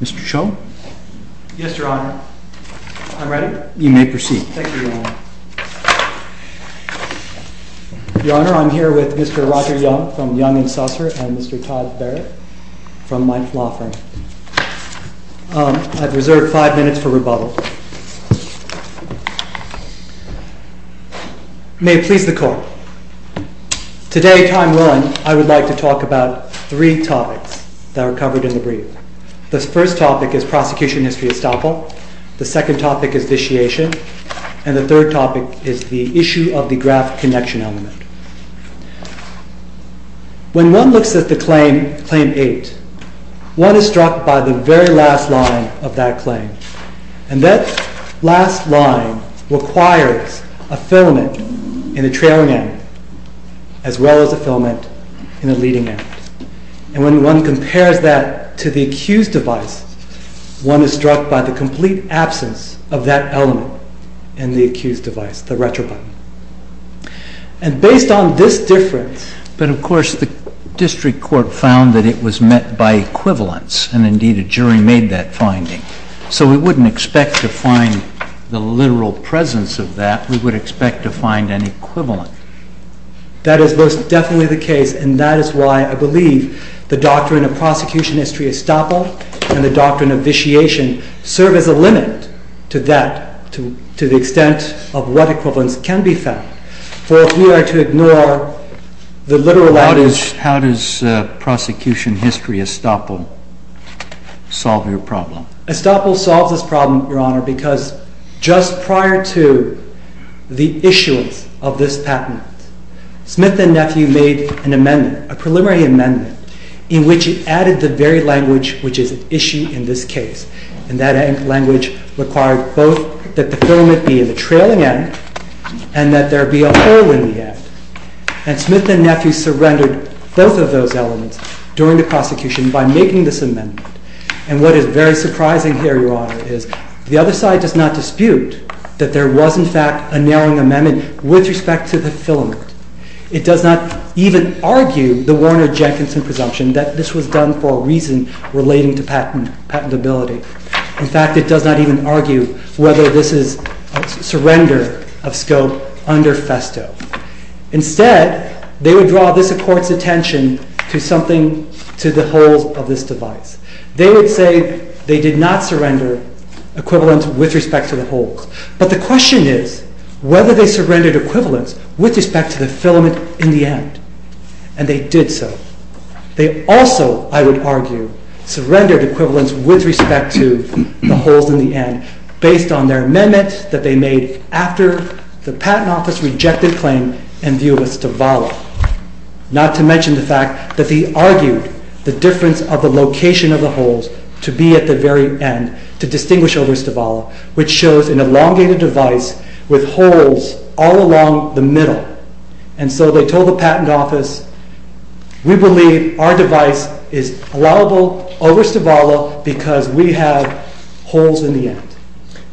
Mr. Cho? Yes, Your Honor. I'm ready. You may proceed. Thank you, Your Honor. Your Honor, I'm here with Mr. Roger Young from Young & Saucer and Mr. Todd Barrett from my law firm. I've reserved five minutes for rebuttal. May it please the Court. Today, time run, I would like to talk about three topics that are covered in the brief. The first topic is prosecution history estoppel, the second topic is vitiation, and the third topic is the issue of the graft connection element. When one looks at the Claim 8, one is struck by the very last line of that claim, and that last line requires a filament in the trailing end as well as a filament in the leading end, and when one compares that to the accused device, one is struck by the complete absence of that element in the accused device, the retro button. And based on this difference... But of course, the district court found that it was met by equivalence, and indeed a jury made that finding. So we wouldn't expect to find the literal presence of that, we would expect to find an equivalent. That is most definitely the case, and that is why I believe the doctrine of prosecution history estoppel and the doctrine of vitiation serve as a limit to that, to the extent of what equivalence can be found. For if we are to ignore the literal... How does prosecution history estoppel solve your problem? Estoppel solves this problem, Your Honor, because just prior to the issuance of this patent, Smith and Nephew made an amendment, a preliminary amendment, in which it added the very language which is at issue in this case, and that language required both that the filament be in the trailing end, and that there be a hole in the end. And Smith and Nephew surrendered both of those elements during the prosecution by making this amendment. And what is very surprising here, Your Honor, is the other side does not dispute that there was in fact a narrowing amendment with respect to the filament. It does not even argue the Warner-Jenkinson presumption that this was done for a reason relating to patentability. In fact, it does not even argue whether this is a surrender of scope under FESTO. Instead, they would draw this Court's attention to the holes of this device. They would say they did not surrender equivalence with respect to the holes. But the question is whether they surrendered equivalence with respect to the filament in the end. And they did so. They also, I would argue, surrendered equivalence with respect to the holes in the end based on their amendment that they made after the Patent Office rejected claim and view of Estovala, not to mention the fact that they argued the difference of the location of the holes to be at the very end to distinguish over Estovala, which shows an elongated device with holes all along the middle. And so they told the Patent Office, we believe our device is allowable over Estovala because we have holes in the end.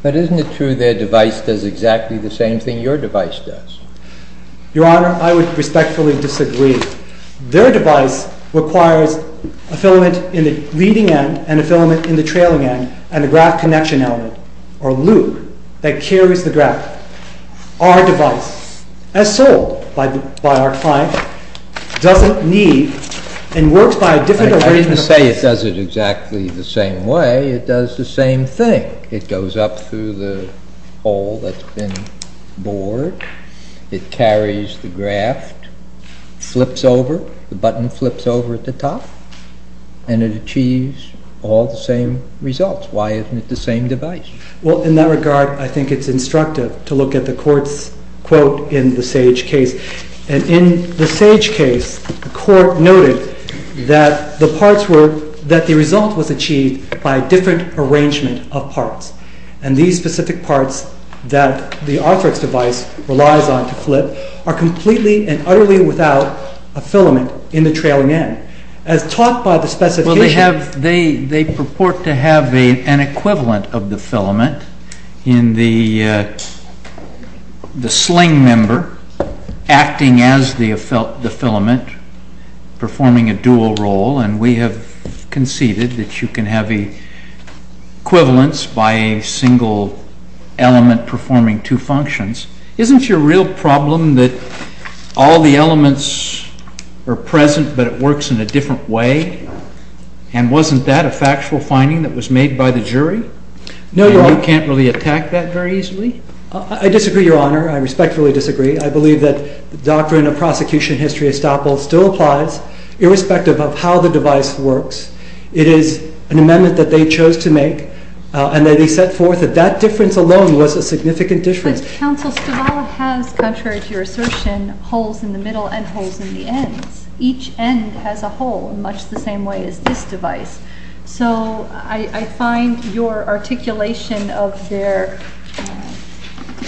But isn't it true their device does exactly the same thing your device does? Your Honor, I would respectfully disagree. Their device requires a filament in the leading end and a filament in the trailing end and a graph connection element, or loop, that carries the graph. Our device, as sold by our client, doesn't need and works by a different arrangement of holes. It does it exactly the same way. It does the same thing. It goes up through the hole that's been bored. It carries the graph, flips over, the button flips over at the top, and it achieves all the same results. Why isn't it the same device? Well, in that regard, I think it's instructive to look at the Court's quote in the Sage case. And in the Sage case, the Court noted that the result was achieved by a different arrangement of parts. And these specific parts that the Arthrex device relies on to flip are completely and utterly without a filament in the trailing end. Well, they purport to have an equivalent of the filament in the sling member acting as the filament, performing a dual role. And we have conceded that you can have equivalents by a single element performing two functions. Isn't your real problem that all the elements are present, but it works in a different way? And wasn't that a factual finding that was made by the jury? No, Your Honor. And you can't really attack that very easily? I disagree, Your Honor. I respectfully disagree. I believe that the doctrine of prosecution history estoppel still applies, irrespective of how the device works. It is an amendment that they chose to make, and that they set forth that that difference alone was a significant difference. But, Counsel, Stavala has, contrary to your assertion, holes in the middle and holes in the ends. Each end has a hole, much the same way as this device. So I find your articulation of their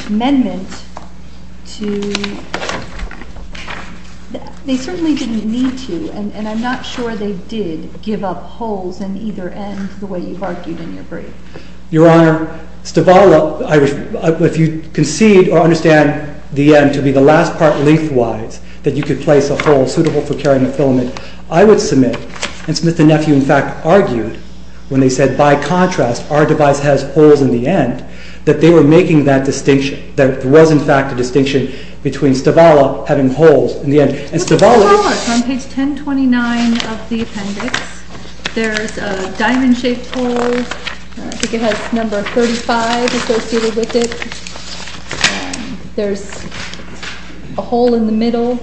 amendment to… they certainly didn't need to, and I'm not sure they did give up holes in either end, the way you've argued in your brief. Your Honor, Stavala, if you concede or understand the end to be the last part lengthwise that you could place a hole suitable for carrying a filament, I would submit, and Smith and Nephew, in fact, argued, when they said, by contrast, our device has holes in the end, that they were making that distinction, that there was, in fact, a distinction between Stavala having holes in the end. Look at Stavala. It's on page 1029 of the appendix. There's a diamond-shaped hole. I think it has number 35 associated with it. There's a hole in the middle,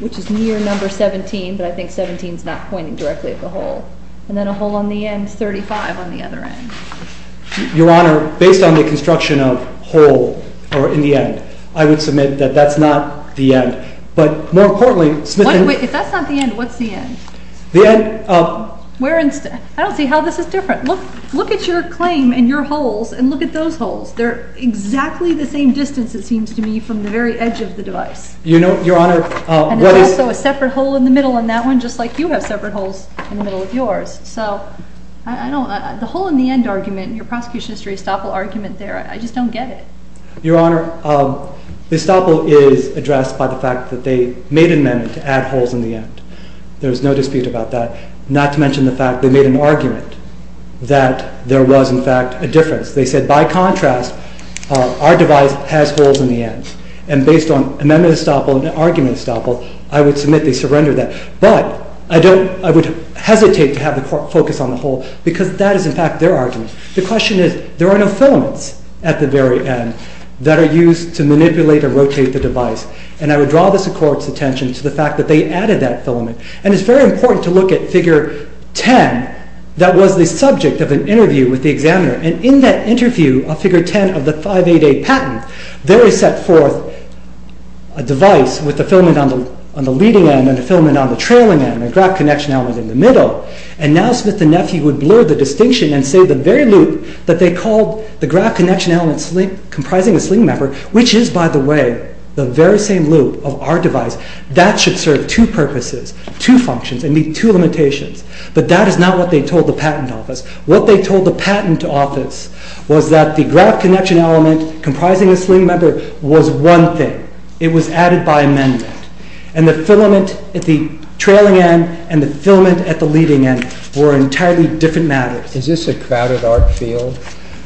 which is near number 17, but I think 17's not pointing directly at the hole. And then a hole on the end, 35 on the other end. Your Honor, based on the construction of hole in the end, I would submit that that's not the end. But more importantly… Wait, if that's not the end, what's the end? The end… I don't see how this is different. Look at your claim and your holes and look at those holes. They're exactly the same distance, it seems to me, from the very edge of the device. Your Honor… And there's also a separate hole in the middle in that one, just like you have separate holes in the middle of yours. So the hole in the end argument, your prosecution history estoppel argument there, I just don't get it. Your Honor, the estoppel is addressed by the fact that they made an amendment to add holes in the end. There's no dispute about that, not to mention the fact they made an argument that there was, in fact, a difference. They said, by contrast, our device has holes in the end. And based on amendment estoppel and argument estoppel, I would submit they surrendered that. But I would hesitate to have the court focus on the hole because that is, in fact, their argument. The question is, there are no filaments at the very end that are used to manipulate or rotate the device. And I would draw the court's attention to the fact that they added that filament. And it's very important to look at figure 10 that was the subject of an interview with the examiner. And in that interview of figure 10 of the 588 patent, there is set forth a device with a filament on the leading end and a filament on the trailing end and a graph connection element in the middle. And now Smith and Nephew would blur the distinction and say the very loop that they called the graph connection element comprising the sling member, which is, by the way, the very same loop of our device, that should serve two purposes. Two functions and meet two limitations. But that is not what they told the patent office. What they told the patent office was that the graph connection element comprising the sling member was one thing. It was added by amendment. And the filament at the trailing end and the filament at the leading end were entirely different matters. Is this a crowded art field?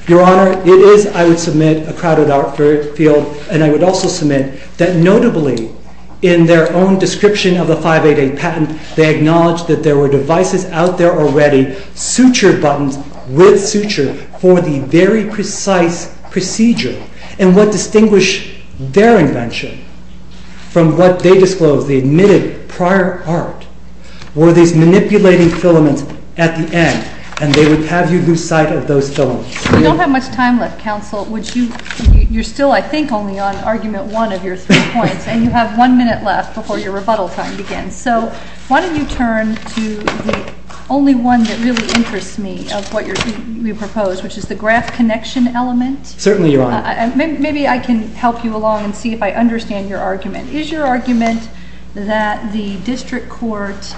Your Honor, it is, I would submit, a crowded art field. And I would also submit that notably in their own description of the 588 patent, they acknowledged that there were devices out there already, sutured buttons with suture for the very precise procedure. And what distinguished their invention from what they disclosed, the admitted prior art, were these manipulating filaments at the end. And they would have you lose sight of those filaments. We don't have much time left, counsel. You're still, I think, only on argument one of your three points. And you have one minute left before your rebuttal time begins. So why don't you turn to the only one that really interests me of what you propose, which is the graph connection element. Certainly, Your Honor. Maybe I can help you along and see if I understand your argument. Is your argument that the district court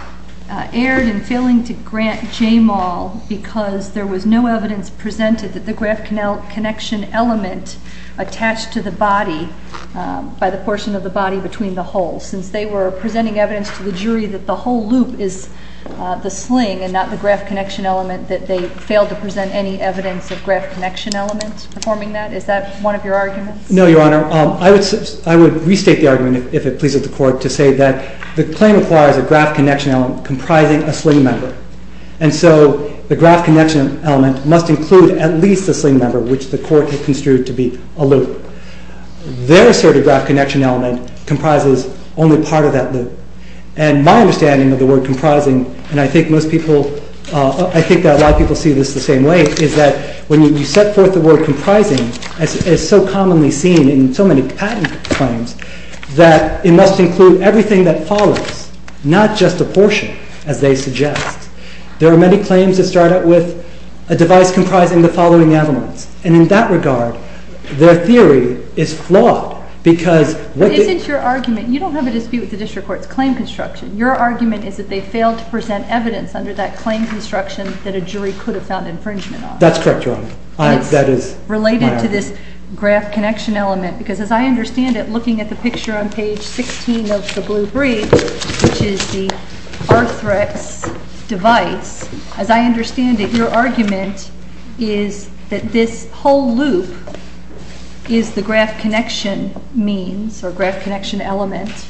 erred in failing to grant JMAL because there was no evidence presented that the graph connection element attached to the body, by the portion of the body between the holes. Since they were presenting evidence to the jury that the whole loop is the sling and not the graph connection element, that they failed to present any evidence of graph connection elements performing that. Is that one of your arguments? No, Your Honor. I would restate the argument, if it pleases the court, to say that the claim requires a graph connection element comprising a sling member. And so the graph connection element must include at least a sling member, which the court had construed to be a loop. Their asserted graph connection element comprises only part of that loop. And my understanding of the word comprising, and I think a lot of people see this the same way, is that when you set forth the word comprising, as so commonly seen in so many patent claims, that it must include everything that follows, not just a portion, as they suggest. There are many claims that start out with a device comprising the following elements. And in that regard, their theory is flawed. But isn't your argument, you don't have a dispute with the district court's claim construction. Your argument is that they failed to present evidence under that claim construction that a jury could have found infringement on. That's correct, Your Honor. It's related to this graph connection element, because as I understand it, looking at the picture on page 16 of the blue brief, which is the Arthrex device, as I understand it, your argument is that this whole loop is the graph connection means, or graph connection element,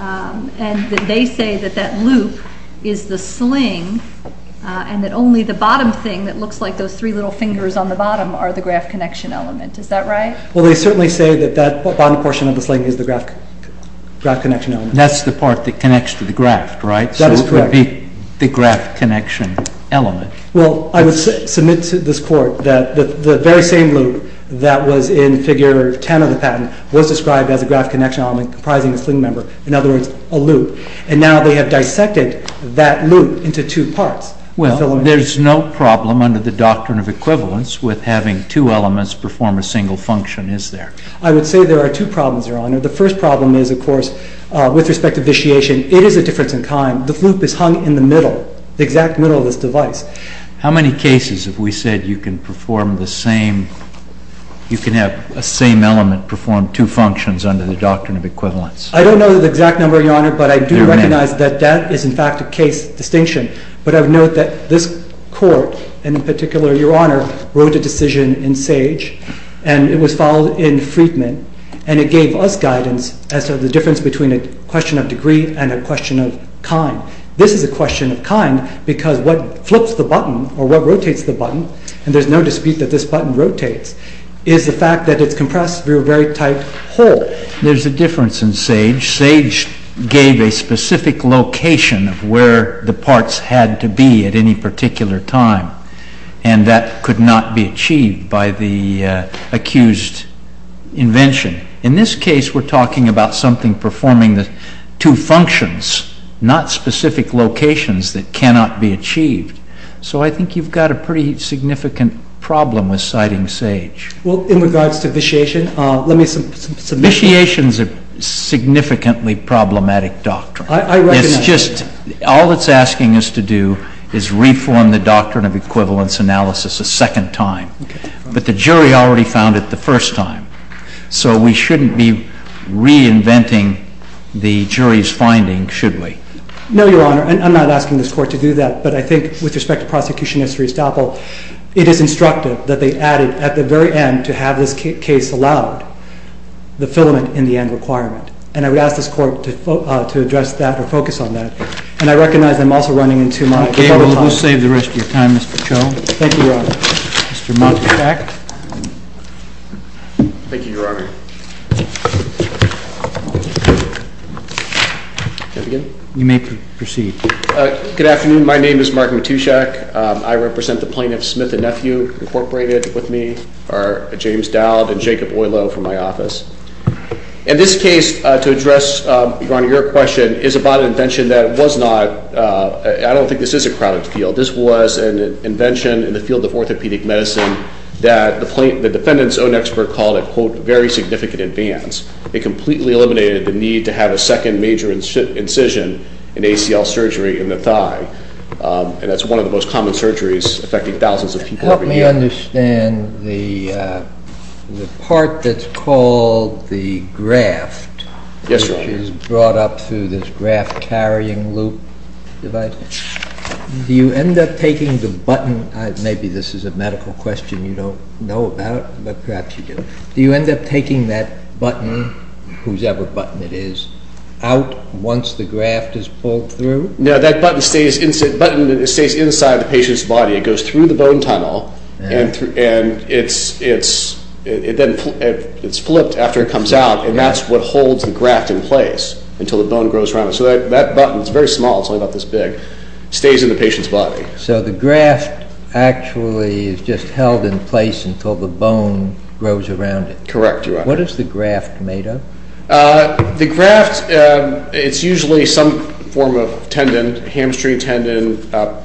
and that they say that that loop is the sling, and that only the bottom thing that looks like those three little fingers on the bottom are the graph connection element. Is that right? Well, they certainly say that that bottom portion of the sling is the graph connection element. That's the part that connects to the graph, right? That is correct. Maybe the graph connection element. Well, I would submit to this court that the very same loop that was in figure 10 of the patent was described as a graph connection element comprising a sling member. In other words, a loop. And now they have dissected that loop into two parts. Well, there's no problem under the doctrine of equivalence with having two elements perform a single function, is there? I would say there are two problems, Your Honor. The first problem is, of course, with respect to vitiation. It is a difference in time. The loop is hung in the middle, the exact middle of this device. How many cases have we said you can have a same element perform two functions under the doctrine of equivalence? I don't know the exact number, Your Honor, but I do recognize that that is, in fact, a case distinction. But I would note that this court, and in particular Your Honor, wrote a decision in Sage, and it was followed in Friedman, and it gave us guidance as to the difference between a question of degree and a question of kind. This is a question of kind because what flips the button, or what rotates the button, and there's no dispute that this button rotates, is the fact that it's compressed through a very tight hole. There's a difference in Sage. Sage gave a specific location of where the parts had to be at any particular time, and that could not be achieved by the accused invention. In this case, we're talking about something performing the two functions, not specific locations that cannot be achieved. So I think you've got a pretty significant problem with citing Sage. Well, in regards to vitiation, let me submit... Vitiation's a significantly problematic doctrine. I recognize that. All it's asking us to do is reform the doctrine of equivalence analysis a second time. But the jury already found it the first time. So we shouldn't be reinventing the jury's finding, should we? No, Your Honor. I'm not asking this Court to do that, but I think with respect to Prosecutionist Restoppel, it is instructive that they added at the very end to have this case allowed the filament in the end requirement. And I would ask this Court to address that or focus on that. And I recognize I'm also running into my... Okay, well, we'll save the rest of your time, Mr. Cho. Thank you, Your Honor. Mr. Matuszek. Thank you, Your Honor. You may proceed. Good afternoon. My name is Mark Matuszek. I represent the plaintiffs Smith and Nephew, Incorporated, with me, or James Dowd and Jacob Oilo from my office. And this case, to address, Your Honor, your question, is about an invention that was not... I don't think this is a chronic field. This was an invention in the field of orthopedic medicine that the defendant's own expert called a, quote, very significant advance. It completely eliminated the need to have a second major incision in ACL surgery in the thigh. And that's one of the most common surgeries affecting thousands of people every year. I understand the part that's called the graft. Yes, Your Honor. Which is brought up through this graft-carrying loop device. Do you end up taking the button? Maybe this is a medical question you don't know about, but perhaps you do. Do you end up taking that button, whosoever button it is, out once the graft is pulled through? No, that button stays inside the patient's body. It goes through the bone tunnel, and it's flipped after it comes out, and that's what holds the graft in place until the bone grows around it. So that button, it's very small, it's only about this big, stays in the patient's body. So the graft actually is just held in place until the bone grows around it. Correct, Your Honor. What is the graft made of? The graft, it's usually some form of tendon, hamstring tendon.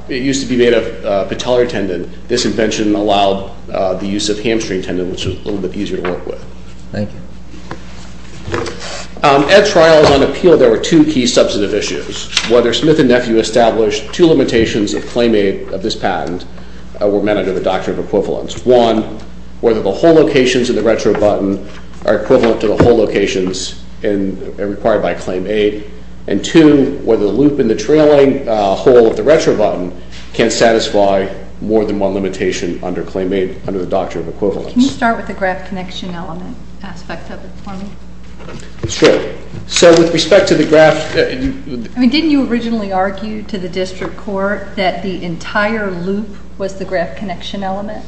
It used to be made of patellar tendon. This invention allowed the use of hamstring tendon, which is a little bit easier to work with. Thank you. At trials on appeal, there were two key substantive issues. Whether Smith and Nephew established two limitations of claim aid of this patent were met under the Doctrine of Equivalence. One, whether the hole locations in the retro button are equivalent to the hole locations required by claim aid. And two, whether the loop in the trailing hole of the retro button can satisfy more than one limitation under claim aid, under the Doctrine of Equivalence. Can you start with the graft connection element aspect of it for me? Sure. So with respect to the graft... I mean, didn't you originally argue to the district court that the entire loop was the graft connection element?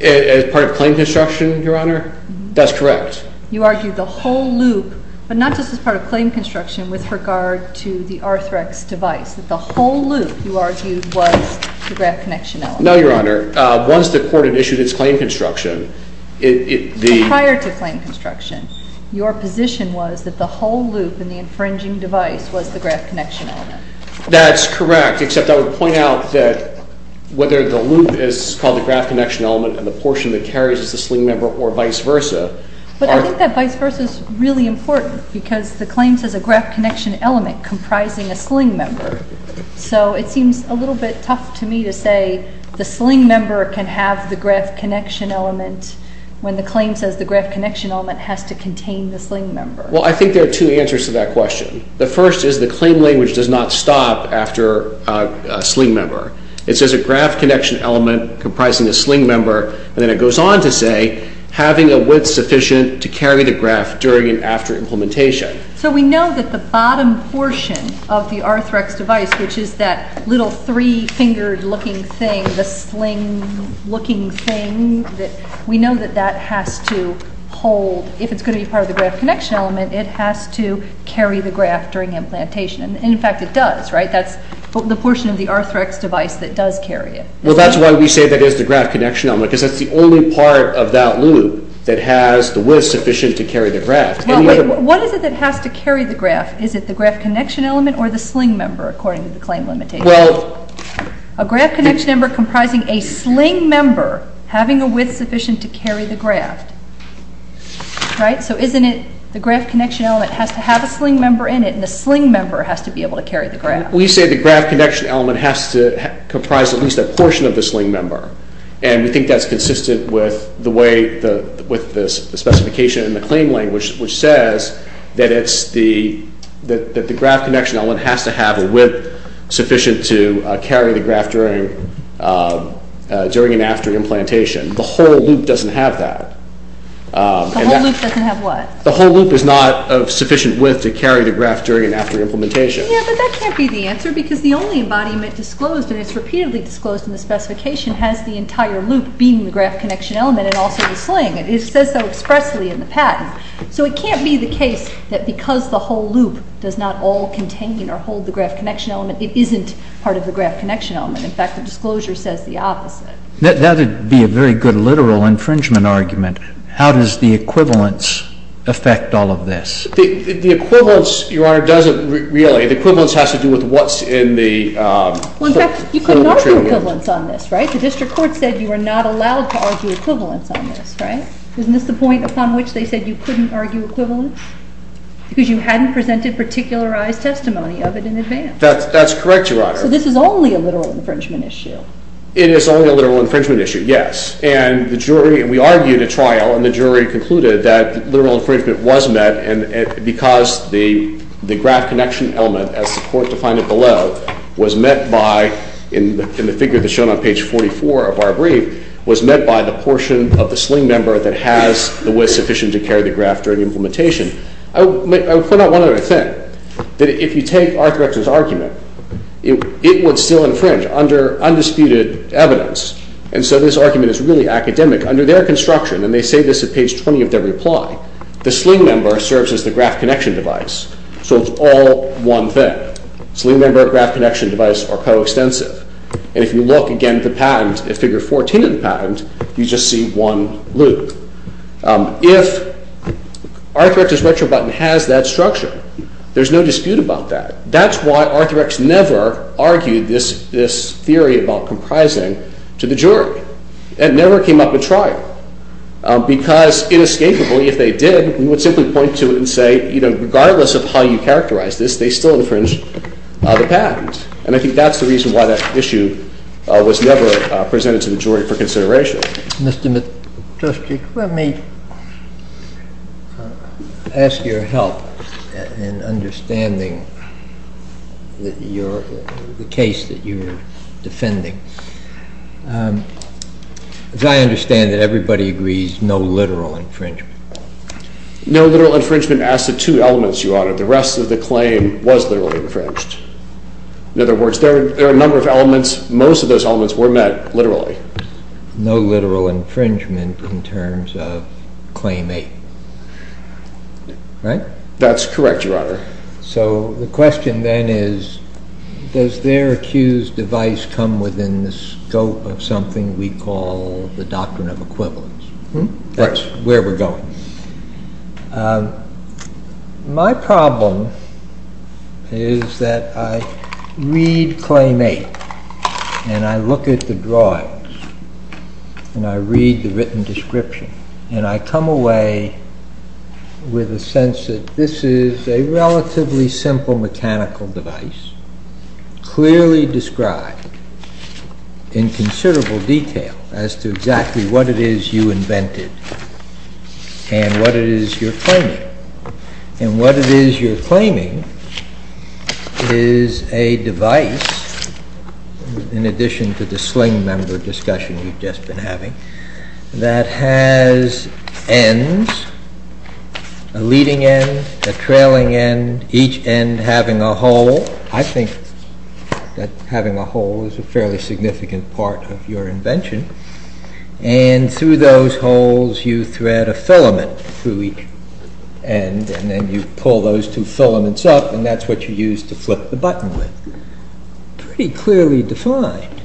As part of claim construction, Your Honor? That's correct. You argued the whole loop, but not just as part of claim construction, with regard to the Arthrex device, that the whole loop, you argued, was the graft connection element. No, Your Honor. Once the court had issued its claim construction, it... So prior to claim construction, your position was that the whole loop in the infringing device was the graft connection element. That's correct, except I would point out that whether the loop is called the graft connection element and the portion that carries is the sling member or vice versa. But I think that vice versa is really important because the claim says a graft connection element comprising a sling member. So it seems a little bit tough to me to say the sling member can have the graft connection element when the claim says the graft connection element has to contain the sling member. Well, I think there are two answers to that question. The first is the claim language does not stop after a sling member. It says a graft connection element comprising a sling member, and then it goes on to say having a width sufficient to carry the graft during and after implementation. So we know that the bottom portion of the Arthrex device, which is that little three-fingered-looking thing, the sling-looking thing, we know that that has to hold. If it's going to be part of the graft connection element, it has to carry the graft during implantation. And, in fact, it does, right? That's the portion of the Arthrex device that does carry it. Well, that's why we say that it is the graft connection element because that's the only part of that loop that has the width sufficient to carry the graft. What is it that has to carry the graft? Is it the graft connection element or the sling member, according to the claim limitation? Well, a graft connection member comprising a sling member having a width sufficient to carry the graft, right? So isn't it the graft connection element has to have a sling member in it and the sling member has to be able to carry the graft? We say the graft connection element has to comprise at least a portion of the sling member, and we think that's consistent with the specification in the claim language, which says that the graft connection element has to have a width sufficient to carry the graft during and after implantation. The whole loop doesn't have that. The whole loop doesn't have what? The whole loop is not of sufficient width to carry the graft during and after implementation. Yeah, but that can't be the answer because the only embodiment disclosed, and it's repeatedly disclosed in the specification, has the entire loop being the graft connection element and also the sling. It says so expressly in the patent. So it can't be the case that because the whole loop does not all contain or hold the graft connection element, it isn't part of the graft connection element. In fact, the disclosure says the opposite. That would be a very good literal infringement argument. How does the equivalence affect all of this? The equivalence, Your Honor, doesn't really. The equivalence has to do with what's in the material. Well, in fact, you couldn't argue equivalence on this, right? The district court said you were not allowed to argue equivalence on this, right? Isn't this the point upon which they said you couldn't argue equivalence? Because you hadn't presented particularized testimony of it in advance. That's correct, Your Honor. So this is only a literal infringement issue. It is only a literal infringement issue, yes. And we argued a trial, and the jury concluded that literal infringement was met because the graft connection element, as the court defined it below, was met by, in the figure that's shown on page 44 of our brief, was met by the portion of the sling member that was sufficient to carry the graft during implementation. I would point out one other thing, that if you take Arthur Exler's argument, it would still infringe under undisputed evidence. And so this argument is really academic. Under their construction, and they say this at page 20 of their reply, the sling member serves as the graft connection device. So it's all one thing. Sling member, graft connection device are coextensive. And if you look again at the patent, at figure 14 of the patent, you just see one loop. If Arthur Exler's retrobutton has that structure, there's no dispute about that. That's why Arthur Exler never argued this theory about comprising to the jury. It never came up at trial. Because inescapably, if they did, we would simply point to it and say, regardless of how you characterize this, they still infringe the patent. And I think that's the reason why that issue was never presented to the jury for consideration. Mr. Trustee, let me ask your help in understanding the case that you're defending. As I understand it, everybody agrees no literal infringement. No literal infringement as to two elements, Your Honor. The rest of the claim was literally infringed. In other words, there are a number of elements. Most of those elements were met literally. No literal infringement in terms of Claim 8, right? That's correct, Your Honor. So the question then is, does their accused device come within the scope of something we call the Doctrine of Equivalence? That's where we're going. My problem is that I read Claim 8, and I look at the drawings, and I read the written description, and I come away with a sense that this is a relatively simple mechanical device, clearly described in considerable detail as to exactly what it is you invented and what it is you're claiming. And what it is you're claiming is a device, in addition to the sling member discussion we've just been having, that has ends, a leading end, a trailing end, each end having a hole. I think that having a hole is a fairly significant part of your invention. And through those holes, you thread a filament through each end, and then you pull those two filaments up, and that's what you use to flip the button with. Pretty clearly defined.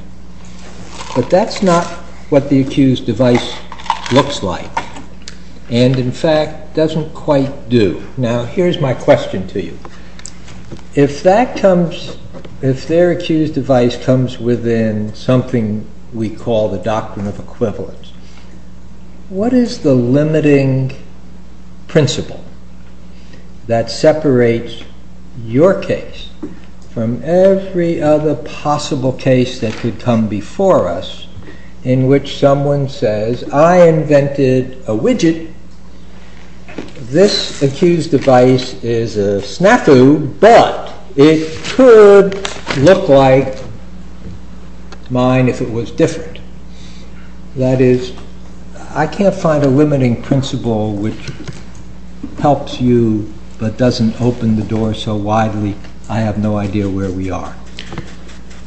But that's not what the accused device looks like, and in fact, doesn't quite do. Now, here's my question to you. If their accused device comes within something we call the Doctrine of Equivalence, what is the limiting principle that separates your case from every other possible case that could come before us, in which someone says, I invented a widget, this accused device is a snafu, but it could look like mine if it was different. That is, I can't find a limiting principle which helps you, but doesn't open the door so widely, I have no idea where we are.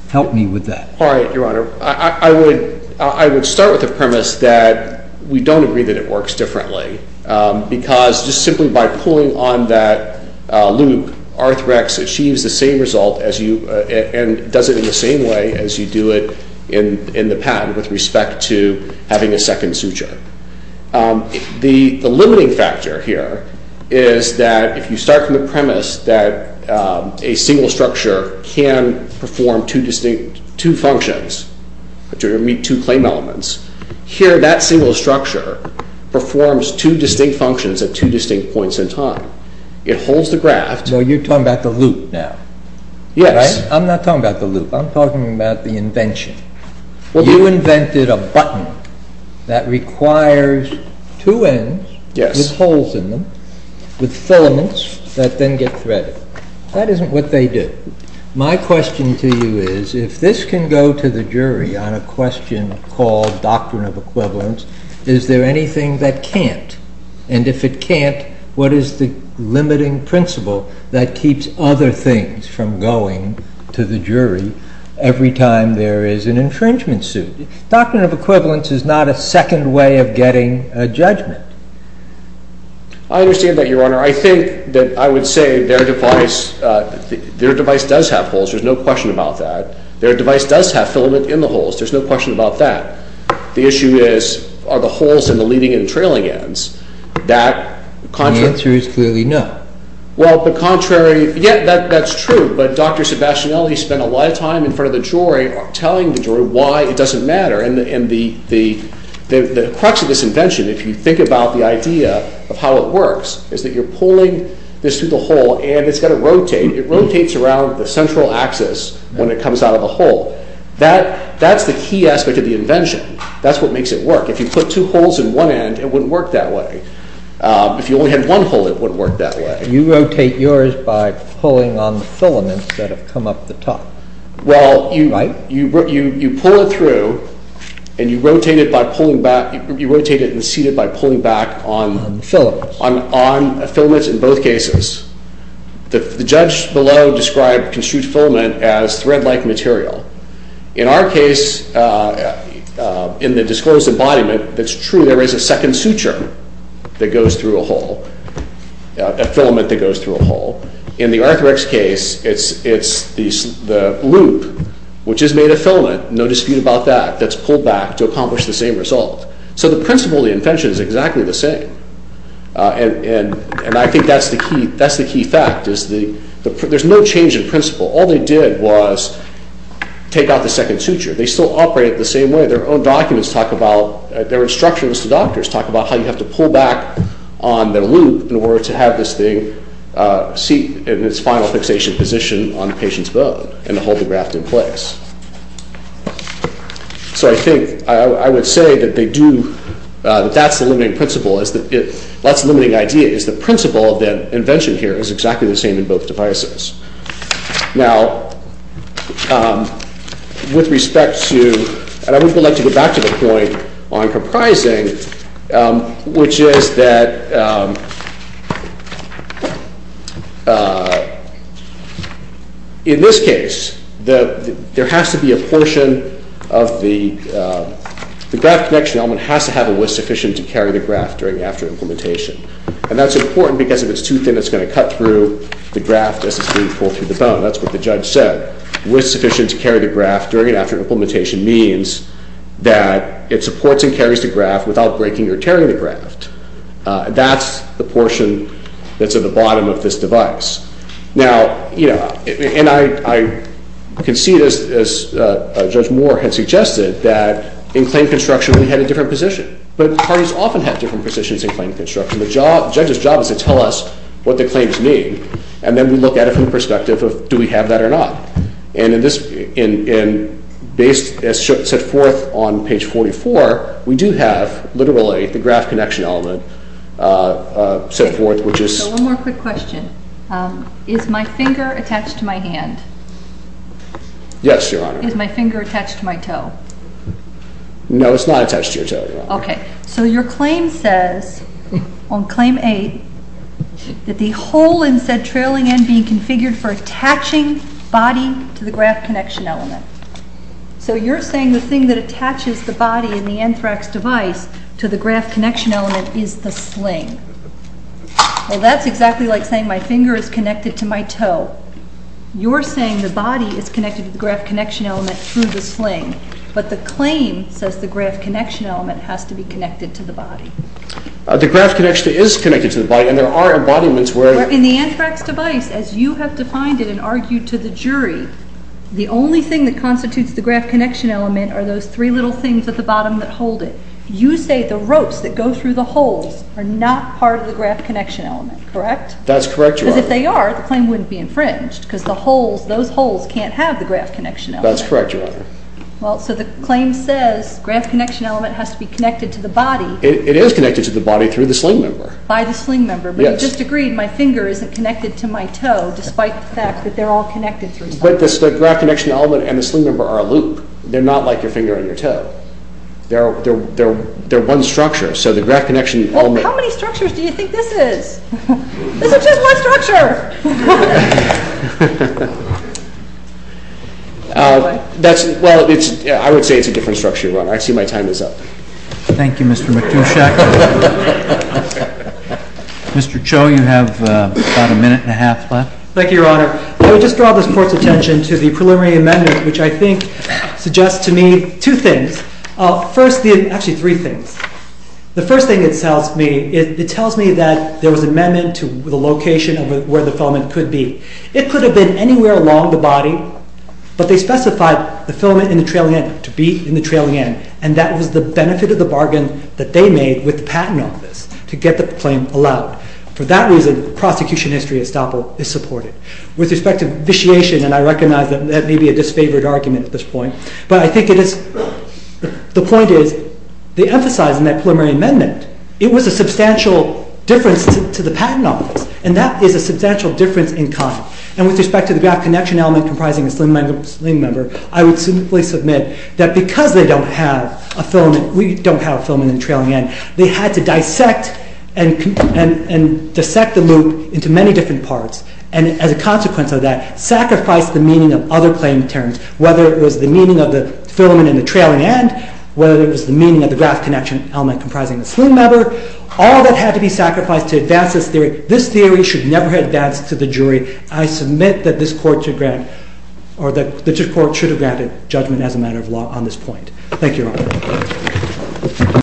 Help me with that. All right, Your Honor. I would start with the premise that we don't agree that it works differently, because just simply by pulling on that loop, Arthrex achieves the same result, and does it in the same way as you do it in the patent, with respect to having a second suture. The limiting factor here is that if you start from the premise that a single structure can perform two distinct functions, to meet two claim elements, here that single structure performs two distinct functions at two distinct points in time. It holds the graft. So you're talking about the loop now? Yes. I'm not talking about the loop, I'm talking about the invention. You invented a button that requires two ends with holes in them, with filaments that then get threaded. That isn't what they do. My question to you is, if this can go to the jury on a question called doctrine of equivalence, is there anything that can't? And if it can't, what is the limiting principle that keeps other things from going to the jury every time there is an infringement suit? Doctrine of equivalence is not a second way of getting a judgment. I understand that, Your Honor. I think that I would say their device does have holes, there's no question about that. Their device does have filament in the holes, there's no question about that. The issue is, are the holes in the leading and trailing ends? The answer is clearly no. Well, but contrary, yeah, that's true. But Dr. Sebastionelli spent a lot of time in front of the jury telling the jury why it doesn't matter. And the crux of this invention, if you think about the idea of how it works, is that you're pulling this through the hole and it's got to rotate. That's the key aspect of the invention. That's what makes it work. If you put two holes in one end, it wouldn't work that way. If you only had one hole, it wouldn't work that way. You rotate yours by pulling on the filaments that have come up the top. Well, you pull it through and you rotate it and seat it by pulling back on the filaments in both cases. The judge below described construed filament as thread-like material. In our case, in the disclosed embodiment, that's true. There is a second suture that goes through a hole, a filament that goes through a hole. In the Arthrex case, it's the loop, which is made of filament, no dispute about that, that's pulled back to accomplish the same result. So the principle of the invention is exactly the same. I think that's the key fact. There's no change in principle. All they did was take out the second suture. They still operate the same way. Their own documents talk about, their instructions to doctors talk about how you have to pull back on the loop in order to have this thing seat in its final fixation position on the patient's bone and hold the graft in place. So I think, I would say that they do, that's the limiting principle, that's the limiting idea, is the principle of the invention here is exactly the same in both devices. Now, with respect to, and I would like to go back to the point on comprising, which is that, in this case, there has to be a portion of the, the graft connection element has to have a width sufficient to carry the graft during and after implementation. And that's important because if it's too thin, it's going to cut through the graft as it's being pulled through the bone. That's what the judge said. Width sufficient to carry the graft during and after implementation means that it supports and carries the graft without breaking or tearing the graft. That's the portion that's at the bottom of this device. Now, you know, and I can see this, as Judge Moore had suggested, that in claim construction we had a different position. But parties often have different positions in claim construction. The judge's job is to tell us what the claims need, and then we look at it from the perspective of do we have that or not. And in this, and based, as set forth on page 44, we do have literally the graft connection element set forth, which is. So one more quick question. Is my finger attached to my hand? Yes, Your Honor. Is my finger attached to my toe? No, it's not attached to your toe, Your Honor. Okay. So your claim says on claim 8 that the hole in said trailing end being configured for attaching body to the graft connection element. So you're saying the thing that attaches the body in the anthrax device to the graft connection element is the sling. Well, that's exactly like saying my finger is connected to my toe. You're saying the body is connected to the graft connection element through the sling. But the claim says the graft connection element has to be connected to the body. The graft connection is connected to the body, and there are embodiments where. In the anthrax device, as you have defined it and argued to the jury, the only thing that constitutes the graft connection element are those three little things at the bottom that hold it. You say the ropes that go through the holes are not part of the graft connection element, correct? That's correct, Your Honor. Because if they are, the claim wouldn't be infringed because those holes can't have the graft connection element. That's correct, Your Honor. Well, so the claim says graft connection element has to be connected to the body. It is connected to the body through the sling member. By the sling member. But you just agreed my finger isn't connected to my toe, despite the fact that they're all connected through something. But the graft connection element and the sling member are a loop. They're not like your finger and your toe. They're one structure, so the graft connection element… Well, how many structures do you think this is? This is just one structure. Well, I would say it's a different structure, Your Honor. I see my time is up. Thank you, Mr. Matuszek. Mr. Cho, you have about a minute and a half left. Thank you, Your Honor. I would just draw this Court's attention to the preliminary amendment, which I think suggests to me two things. Actually, three things. The first thing it tells me, it tells me that there was an amendment to the location of where the filament could be. It could have been anywhere along the body, but they specified the filament in the trailing end to be in the trailing end, and that was the benefit of the bargain that they made with the Patent Office to get the claim allowed. For that reason, prosecution history estoppel is supported. With respect to vitiation, and I recognize that that may be a disfavored argument at this point, but I think the point is they emphasize in that preliminary amendment it was a substantial difference to the Patent Office, and that is a substantial difference in kind. And with respect to the graft connection element comprising the sling member, I would simply submit that because they don't have a filament, we don't have a filament in the trailing end, they had to dissect and dissect the loop into many different parts, and as a consequence of that, sacrifice the meaning of other claim terms, whether it was the meaning of the filament in the trailing end, whether it was the meaning of the graft connection element comprising the sling member, all that had to be sacrificed to advance this theory. This theory should never have advanced to the jury. I submit that this court should have granted judgment as a matter of law on this point.